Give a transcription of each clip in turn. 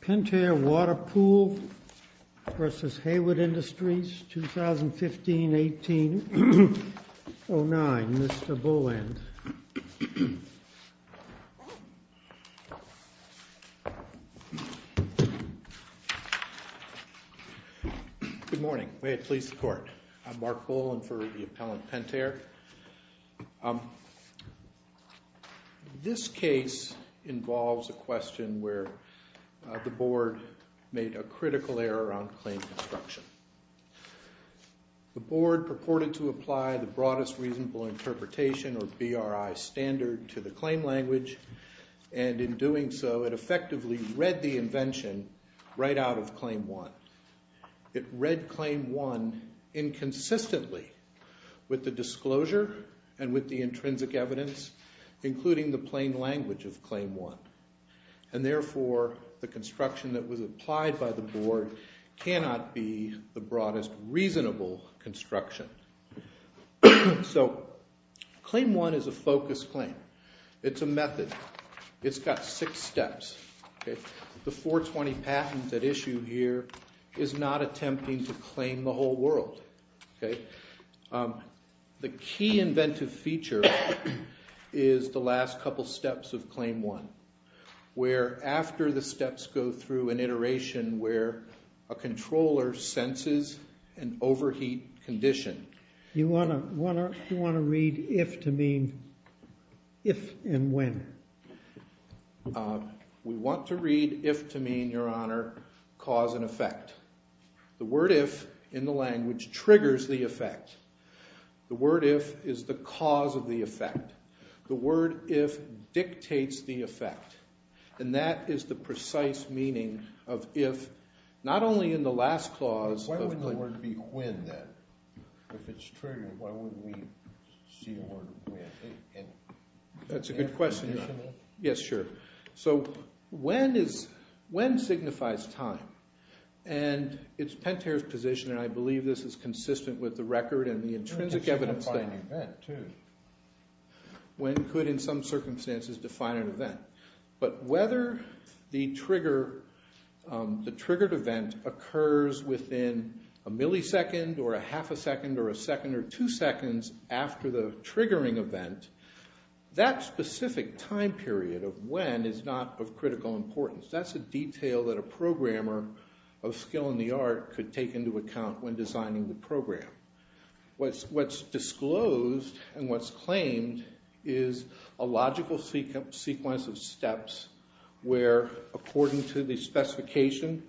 Pentair Water Pool v. Hayward Industries, 2015-18-09, Mr. Boland. Good morning. May it please the Court. I'm Mark Boland for the appellant Pentair. This case involves a question where the Board made a critical error on claim construction. The Board purported to apply the Broadest Reasonable Interpretation, or BRI, standard to the claim language, and in doing so, it effectively read the invention right out of Claim 1. It read Claim 1 inconsistently with the disclosure and with the intrinsic evidence, including the plain language of Claim 1. And therefore, the construction that was applied by the Board cannot be the Broadest Reasonable construction. So Claim 1 is a focused claim. It's a method. It's got six steps. The 420 patent at issue here is not attempting to claim the whole world. The key inventive feature is the last couple steps of Claim 1, where after the steps go through an iteration where a controller senses an overheat condition. You want to read if to mean if and when? We want to read if to mean, Your Honor, cause and effect. The word if in the language triggers the effect. The word if is the cause of the effect. The word if dictates the effect. And that is the precise meaning of if, not only in the last clause. Why wouldn't the word be when then? If it's triggered, why wouldn't we see the word when? That's a good question, Your Honor. Yes, sure. So when signifies time? And it's Pentair's position, and I believe this is consistent with the record and the intrinsic evidence. When could, in some circumstances, define an event? But whether the triggered event occurs within a millisecond or a half a second or a second or two seconds after the triggering event, that specific time period of when is not of critical importance. That's a detail that a programmer of skill in the art could take into account when designing the program. What's disclosed and what's claimed is a logical sequence of steps where, according to the specification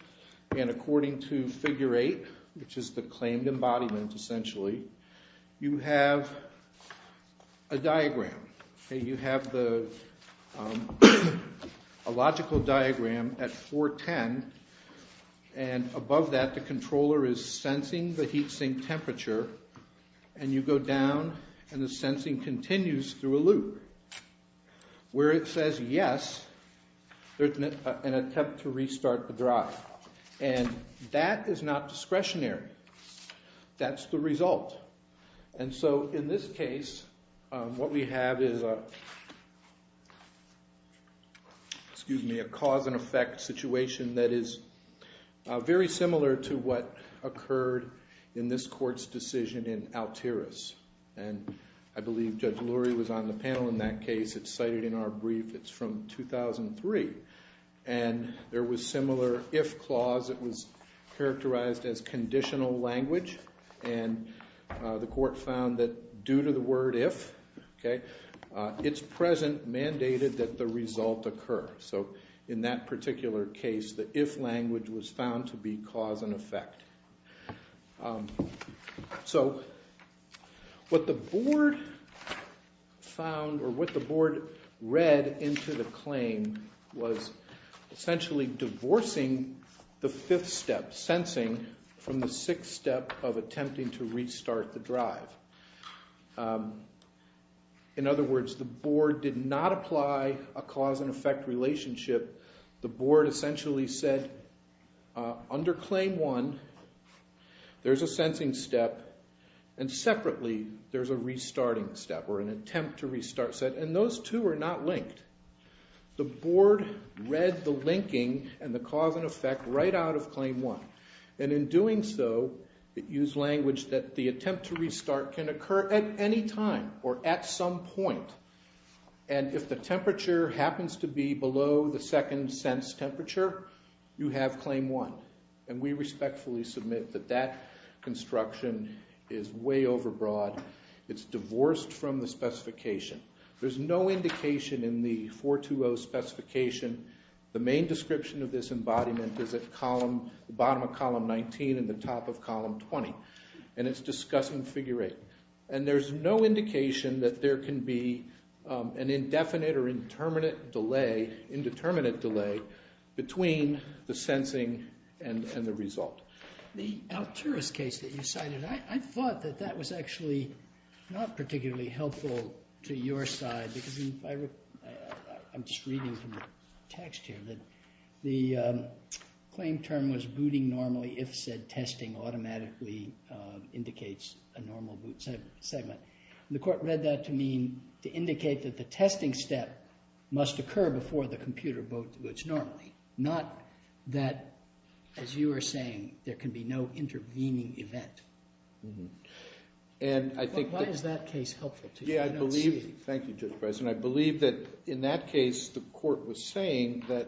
and according to figure 8, which is the claimed embodiment, essentially, you have a diagram. You have a logical diagram at 410. And above that, the controller is sensing the heat sink temperature. And you go down, and the sensing continues through a loop. Where it says yes, there's an attempt to restart the drive. And that is not discretionary. That's the result. And so in this case, what we have is a cause and effect situation that is very similar to what occurred in this court's decision in Altiras. And I believe Judge Lurie was on the panel in that case. It's cited in our brief. It's from 2003. And there was similar if clause that was characterized as conditional language. And the court found that due to the word if, its present mandated that the result occur. So in that particular case, the if language was found to be cause and effect. So what the board found or what the board read into the claim was essentially divorcing the fifth step, sensing from the sixth step of attempting to restart the drive. In other words, the board did not apply a cause and effect relationship. The board essentially said, under claim one, there's a sensing step. And separately, there's a restarting step or an attempt to restart step. And those two are not linked. The board read the linking and the cause and effect right out of claim one. And in doing so, it used language that the attempt to restart can occur at any time or at some point. And if the temperature happens to be below the second sense temperature, you have claim one. And we respectfully submit that that construction is way overbroad. It's divorced from the specification. There's no indication in the 420 specification. The main description of this embodiment is at the bottom of column 19 and the top of column 20. And it's discussing figure eight. And there's no indication that there can be an indefinite or indeterminate delay between the sensing and the result. The Alturas case that you cited, I thought that that was actually not particularly helpful to your side. I'm just reading from the text here. The claim term was booting normally if said testing automatically indicates a normal boot segment. The court read that to indicate that the testing step must occur before the computer boots normally. Not that, as you were saying, there can be no intervening event. Why is that case helpful to you? Thank you, Judge Bison. I believe that in that case, the court was saying that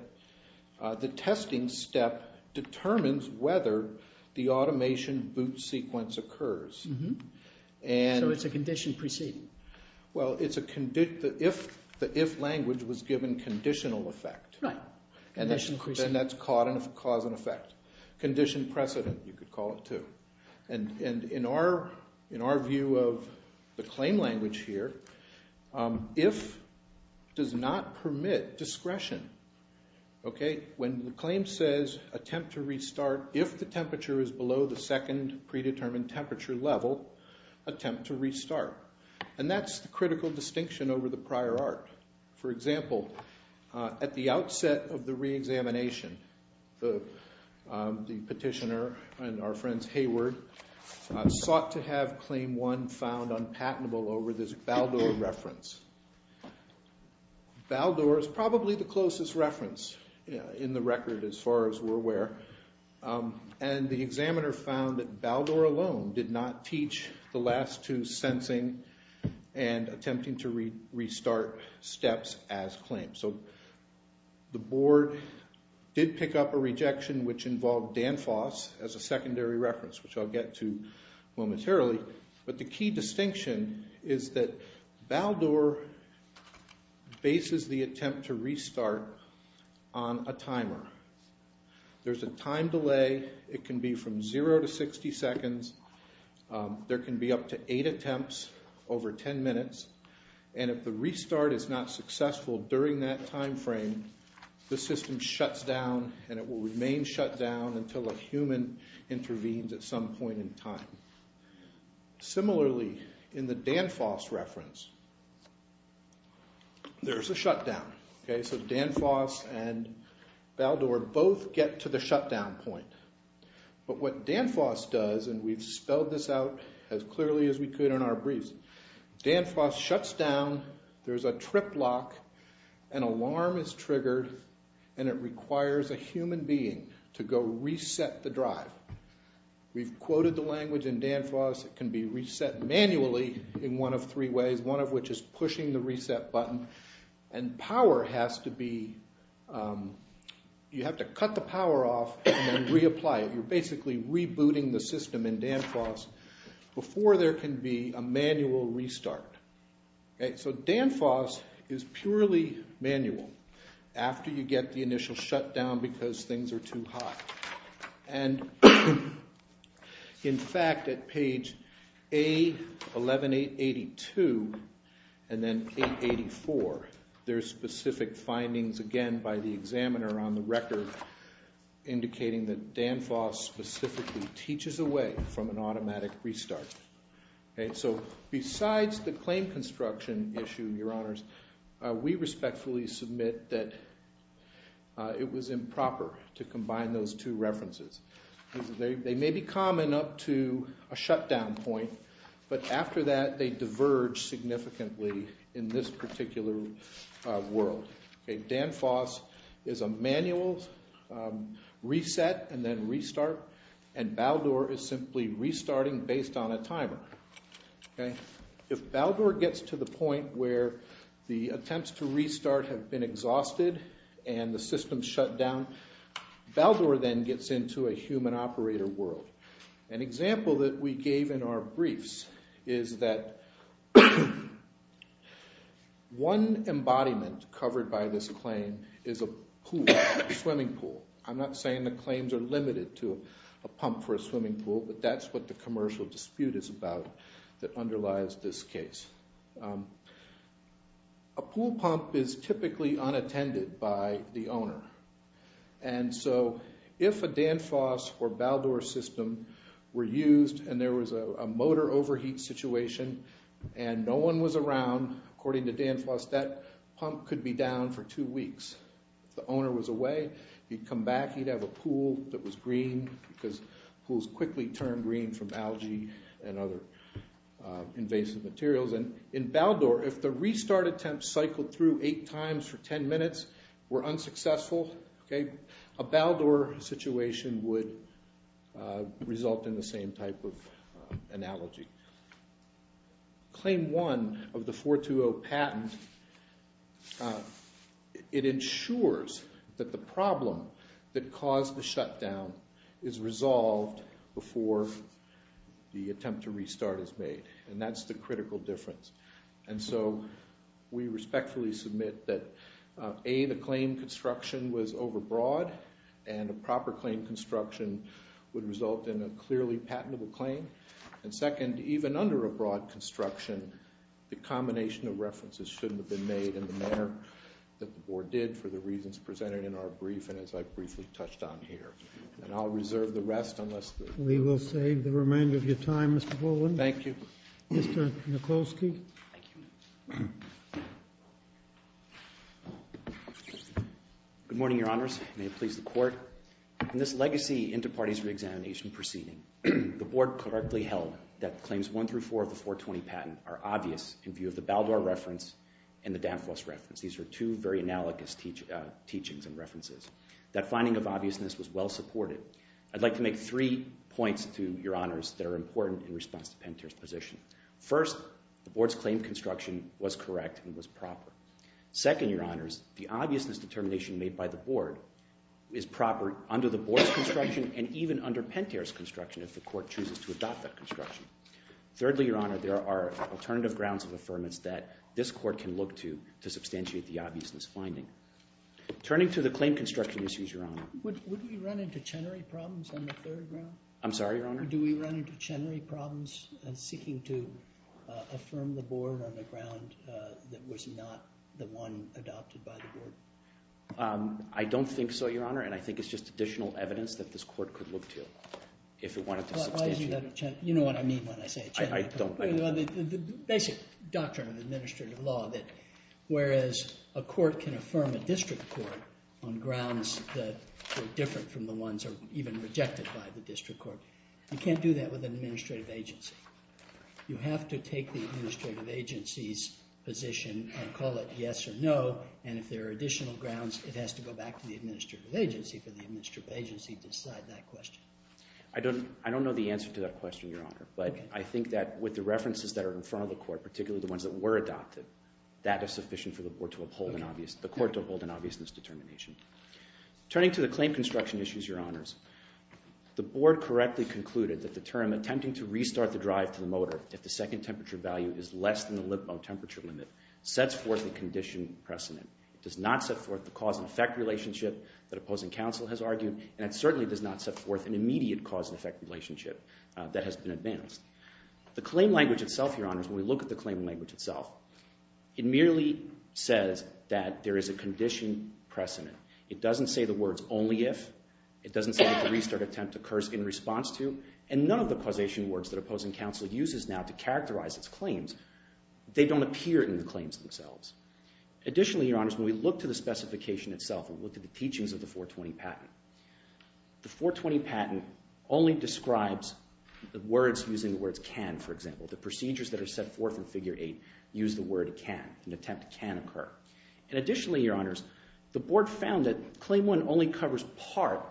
the testing step determines whether the automation boot sequence occurs. So it's a condition preceding. Well, it's a condition. If the if language was given conditional effect, then that's cause and effect. Condition precedent, you could call it too. And in our view of the claim language here, if does not permit discretion. When the claim says attempt to restart, if the temperature is below the second predetermined temperature level, attempt to restart. And that's the critical distinction over the prior art. For example, at the outset of the reexamination, the petitioner and our friends Hayward sought to have claim one found unpatentable over this Baldor reference. Baldor is probably the closest reference in the record as far as we're aware. And the examiner found that Baldor alone did not teach the last two sensing and attempting to restart steps as claimed. So the board did pick up a rejection which involved Danfoss as a secondary reference, which I'll get to momentarily. But the key distinction is that Baldor bases the attempt to restart on a timer. There's a time delay. It can be from zero to 60 seconds. There can be up to eight attempts over 10 minutes. And if the restart is not successful during that time frame, the system shuts down and it will remain shut down until a human intervenes at some point in time. Similarly, in the Danfoss reference, there's a shutdown. So Danfoss and Baldor both get to the shutdown point. But what Danfoss does, and we've spelled this out as clearly as we could in our briefs, Danfoss shuts down, there's a trip lock, an alarm is triggered, and it requires a human being to go reset the drive. We've quoted the language in Danfoss. It can be reset manually in one of three ways, one of which is pushing the reset button. And power has to be – you have to cut the power off and then reapply it. You're basically rebooting the system in Danfoss before there can be a manual restart. So Danfoss is purely manual after you get the initial shutdown because things are too hot. And in fact, at page A11882 and then 884, there's specific findings again by the examiner on the record indicating that Danfoss specifically teaches away from an automatic restart. So besides the claim construction issue, Your Honors, we respectfully submit that it was improper to combine those two references. They may be common up to a shutdown point, but after that they diverge significantly in this particular world. Danfoss is a manual reset and then restart, and Baldor is simply restarting based on a timer. If Baldor gets to the point where the attempts to restart have been exhausted and the system's shut down, Baldor then gets into a human operator world. An example that we gave in our briefs is that one embodiment covered by this claim is a pool, a swimming pool. I'm not saying the claims are limited to a pump for a swimming pool, but that's what the commercial dispute is about that underlies this case. A pool pump is typically unattended by the owner. And so if a Danfoss or Baldor system were used and there was a motor overheat situation and no one was around, according to Danfoss, that pump could be down for two weeks. If the owner was away, he'd come back, he'd have a pool that was green because pools quickly turn green from algae and other invasive materials. In Baldor, if the restart attempt cycled through eight times for ten minutes, were unsuccessful, a Baldor situation would result in the same type of analogy. Claim one of the 420 patent ensures that the problem that caused the shutdown is resolved before the attempt to restart is made, and that's the critical difference. And so we respectfully submit that A, the claim construction was overbroad, and a proper claim construction would result in a clearly patentable claim. And second, even under a broad construction, the combination of references shouldn't have been made in the manner that the board did for the reasons presented in our brief and as I briefly touched on here. And I'll reserve the rest unless- We will save the remainder of your time, Mr. Baldwin. Thank you. Mr. Mikulski. Thank you. Good morning, your honors. May it please the court. In this legacy inter-parties reexamination proceeding, the board correctly held that claims one through four of the 420 patent are obvious in view of the Baldor reference and the Danfoss reference. These are two very analogous teachings and references. That finding of obviousness was well supported. I'd like to make three points to your honors that are important in response to Panter's position. First, the board's claim construction was correct and was proper. Second, your honors, the obviousness determination made by the board is proper under the board's construction and even under Panter's construction if the court chooses to adopt that construction. Thirdly, your honor, there are alternative grounds of affirmance that this court can look to to substantiate the obviousness finding. Turning to the claim construction issues, your honor. Would we run into Chenery problems on the third round? I'm sorry, your honor? Do we run into Chenery problems in seeking to affirm the board on the ground that was not the one adopted by the board? I don't think so, your honor, and I think it's just additional evidence that this court could look to if it wanted to substantiate. You know what I mean when I say Chenery. I don't. The basic doctrine of administrative law that whereas a court can affirm a district court on grounds that are different from the ones that are even rejected by the district court, you can't do that with an administrative agency. You have to take the administrative agency's position and call it yes or no, and if there are additional grounds, it has to go back to the administrative agency for the administrative agency to decide that question. I don't know the answer to that question, your honor, but I think that with the references that are in front of the court, particularly the ones that were adopted, that is sufficient for the court to uphold an obviousness determination. Turning to the claim construction issues, your honors. The board correctly concluded that the term attempting to restart the drive to the motor if the second temperature value is less than the Lippo temperature limit sets forth a condition precedent. It does not set forth the cause and effect relationship that opposing counsel has argued, and it certainly does not set forth an immediate cause and effect relationship that has been advanced. The claim language itself, your honors, when we look at the claim language itself, it merely says that there is a condition precedent. It doesn't say the words only if. It doesn't say if the restart attempt occurs in response to, and none of the causation words that opposing counsel uses now to characterize its claims. They don't appear in the claims themselves. Additionally, your honors, when we look to the specification itself and look at the teachings of the 420 patent, the 420 patent only describes the words using the words can, for example. The procedures that are set forth in Figure 8 use the word can. An attempt can occur. And additionally, your honors, the board found that Claim 1 only covers part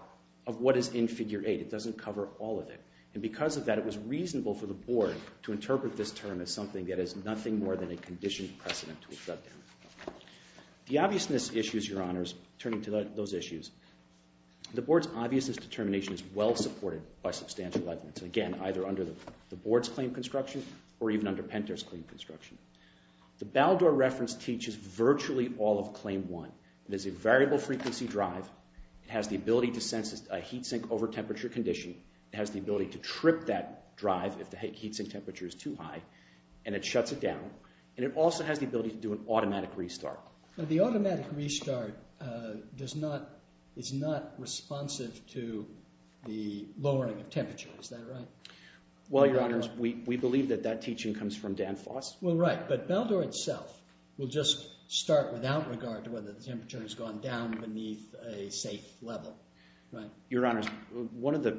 of what is in Figure 8. It doesn't cover all of it. And because of that, it was reasonable for the board to interpret this term as something that is nothing more than a conditioned precedent to a shutdown. The obviousness issues, your honors, turning to those issues, the board's obviousness determination is well supported by substantial evidence. Again, either under the board's claim construction or even under Penter's claim construction. The Baldor reference teaches virtually all of Claim 1. It is a variable frequency drive. It has the ability to sense a heat sink over temperature condition. It has the ability to trip that drive if the heat sink temperature is too high. And it shuts it down. And it also has the ability to do an automatic restart. The automatic restart is not responsive to the lowering of temperature. Is that right? Well, your honors, we believe that that teaching comes from Dan Foss. Well, right. But Baldor itself will just start without regard to whether the temperature has gone down beneath a safe level. Right. Your honors, one of the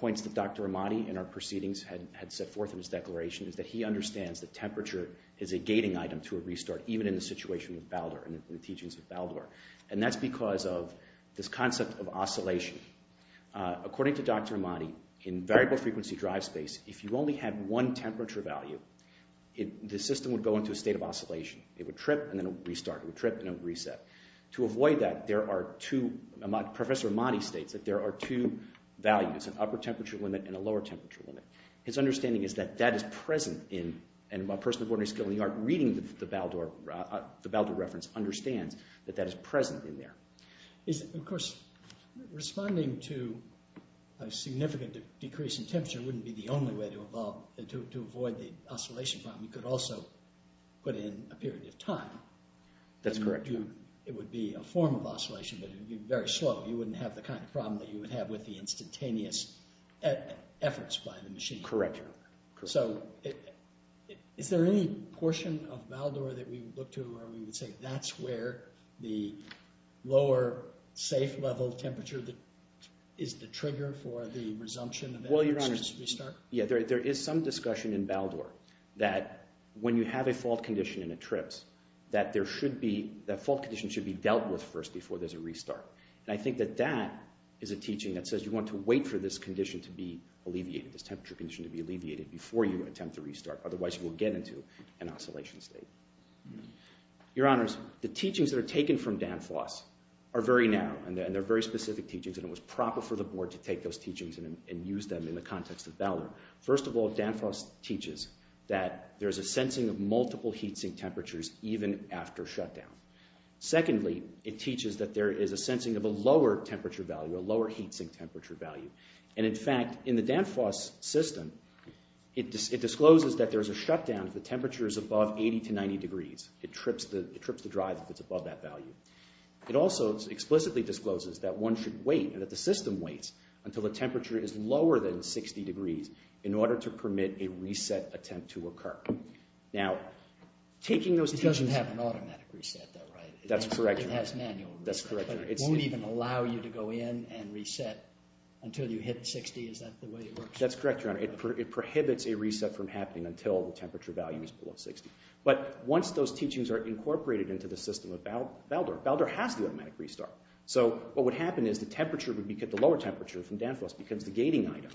points that Dr. Ahmadi in our proceedings had set forth in his declaration is that he understands that temperature is a gating item to a restart even in the situation with Baldor and the teachings of Baldor. And that's because of this concept of oscillation. According to Dr. Ahmadi, in variable frequency drive space, if you only had one temperature value, the system would go into a state of oscillation. It would trip and then it would restart. It would trip and then it would reset. To avoid that, there are two – Professor Ahmadi states that there are two values, an upper temperature limit and a lower temperature limit. His understanding is that that is present in – and a person of ordinary skill in the art reading the Baldor reference understands that that is present in there. Of course, responding to a significant decrease in temperature wouldn't be the only way to avoid the oscillation problem. You could also put in a period of time. That's correct. It would be a form of oscillation, but it would be very slow. You wouldn't have the kind of problem that you would have with the instantaneous efforts by the machine. Correct. So is there any portion of Baldor that we would look to where we would say that's where the lower safe level temperature is the trigger for the resumption of that specific restart? Yeah, there is some discussion in Baldor that when you have a fault condition and it trips that there should be – that fault condition should be dealt with first before there's a restart. And I think that that is a teaching that says you want to wait for this condition to be alleviated, this temperature condition to be alleviated before you attempt to restart. Otherwise, you will get into an oscillation state. Your Honors, the teachings that are taken from Danfoss are very narrow, and they're very specific teachings, and it was proper for the board to take those teachings and use them in the context of Baldor. First of all, Danfoss teaches that there's a sensing of multiple heat sink temperatures even after shutdown. Secondly, it teaches that there is a sensing of a lower temperature value, a lower heat sink temperature value. And in fact, in the Danfoss system, it discloses that there's a shutdown if the temperature is above 80 to 90 degrees. It trips the drive if it's above that value. It also explicitly discloses that one should wait and that the system waits until the temperature is lower than 60 degrees in order to permit a reset attempt to occur. It doesn't have an automatic reset though, right? That's correct, Your Honor. It has manual reset, but it won't even allow you to go in and reset until you hit 60? Is that the way it works? That's correct, Your Honor. It prohibits a reset from happening until the temperature value is below 60. But once those teachings are incorporated into the system of Baldor, Baldor has to automatically restart. So what would happen is the temperature would be – the lower temperature from Danfoss becomes the gating item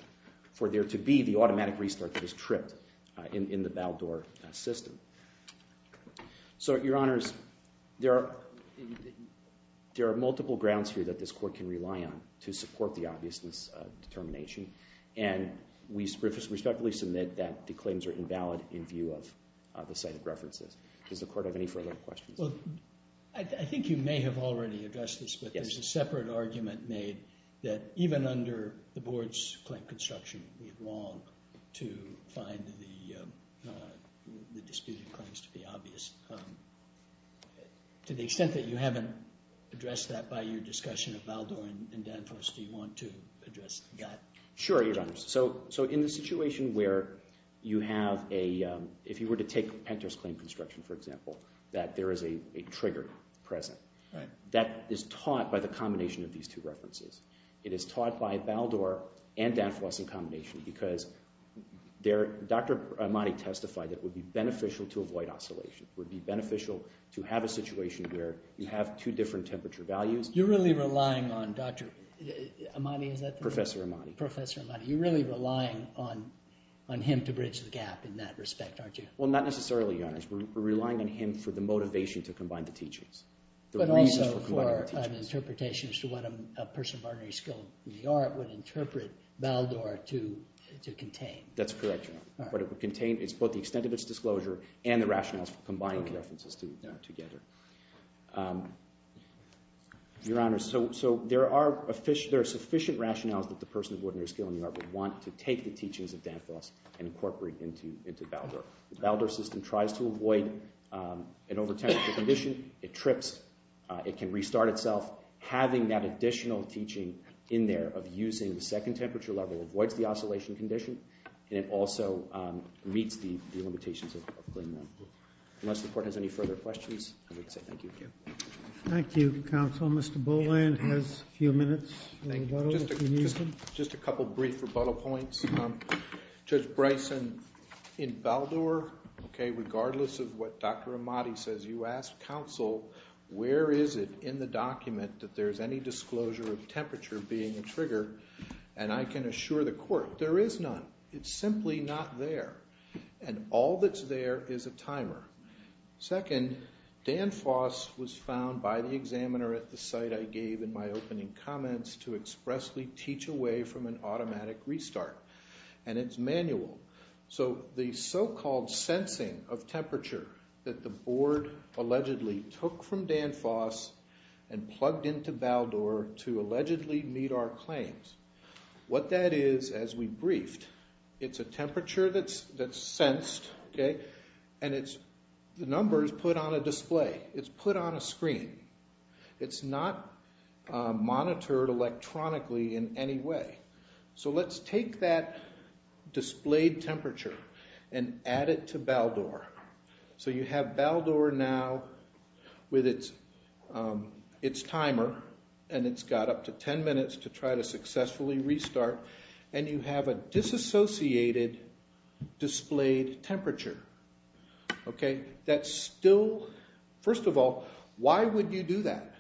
for there to be the automatic restart that is tripped in the Baldor system. So, Your Honors, there are multiple grounds here that this court can rely on to support the obviousness determination. And we respectfully submit that the claims are invalid in view of the cited references. Does the court have any further questions? Well, I think you may have already addressed this, but there's a separate argument made that even under the board's claim construction, we'd long to find the disputed claims to be obvious. To the extent that you haven't addressed that by your discussion of Baldor and Danfoss, do you want to address that? Sure, Your Honors. So in the situation where you have a – if you were to take Penter's claim construction, for example, that there is a trigger present, that is taught by the combination of these two references. It is taught by Baldor and Danfoss in combination because Dr. Amati testified that it would be beneficial to avoid oscillation. It would be beneficial to have a situation where you have two different temperature values. You're really relying on Dr. Amati, is that correct? Professor Amati. Professor Amati. You're really relying on him to bridge the gap in that respect, aren't you? Well, not necessarily, Your Honors. We're relying on him for the motivation to combine the teachings. But also for an interpretation as to what a person of ordinary skill in the art would interpret Baldor to contain. That's correct, Your Honor. What it would contain is both the extent of its disclosure and the rationales for combining the references together. Your Honors, so there are sufficient rationales that the person of ordinary skill in the art would want to take the teachings of Danfoss and incorporate into Baldor. The Baldor system tries to avoid an over-temperature condition. It trips. It can restart itself. Having that additional teaching in there of using the second temperature level avoids the oscillation condition, and it also meets the limitations of Clingman. Unless the Court has any further questions, I would say thank you. Thank you, Counsel. Mr. Boland has a few minutes. Thank you. Just a couple brief rebuttal points. Judge Bryson, in Baldor, regardless of what Dr. Amati says, you ask counsel, where is it in the document that there's any disclosure of temperature being a trigger? And I can assure the Court, there is none. It's simply not there. And all that's there is a timer. Second, Danfoss was found by the examiner at the site I gave in my opening comments to expressly teach away from an automatic restart, and it's manual. So the so-called sensing of temperature that the Board allegedly took from Danfoss and plugged into Baldor to allegedly meet our claims, what that is, as we briefed, it's a temperature that's sensed, and the number is put on a display. It's put on a screen. It's not monitored electronically in any way. So let's take that displayed temperature and add it to Baldor. So you have Baldor now with its timer, and it's got up to 10 minutes to try to successfully restart, and you have a disassociated displayed temperature. First of all, why would you do that?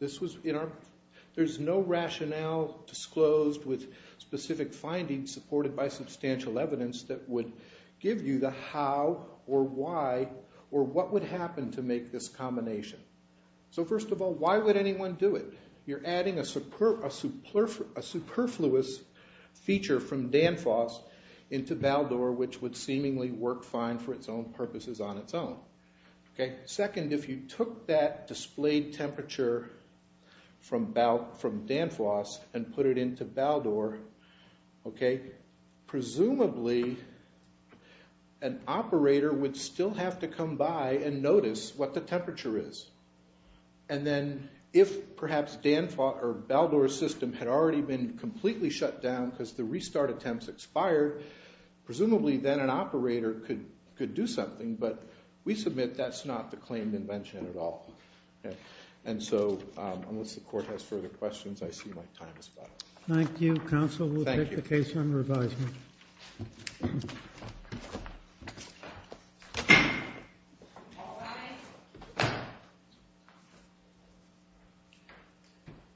There's no rationale disclosed with specific findings supported by substantial evidence that would give you the how or why or what would happen to make this combination. So first of all, why would anyone do it? You're adding a superfluous feature from Danfoss into Baldor, which would seemingly work fine for its own purposes on its own. Second, if you took that displayed temperature from Danfoss and put it into Baldor, presumably an operator would still have to come by and notice what the temperature is. And then if perhaps Danfoss or Baldor's system had already been completely shut down because the restart attempts expired, presumably then an operator could do something, but we submit that's not the claimed invention at all. And so unless the court has further questions, I see my time is up. Thank you. Counsel will take the case on revision.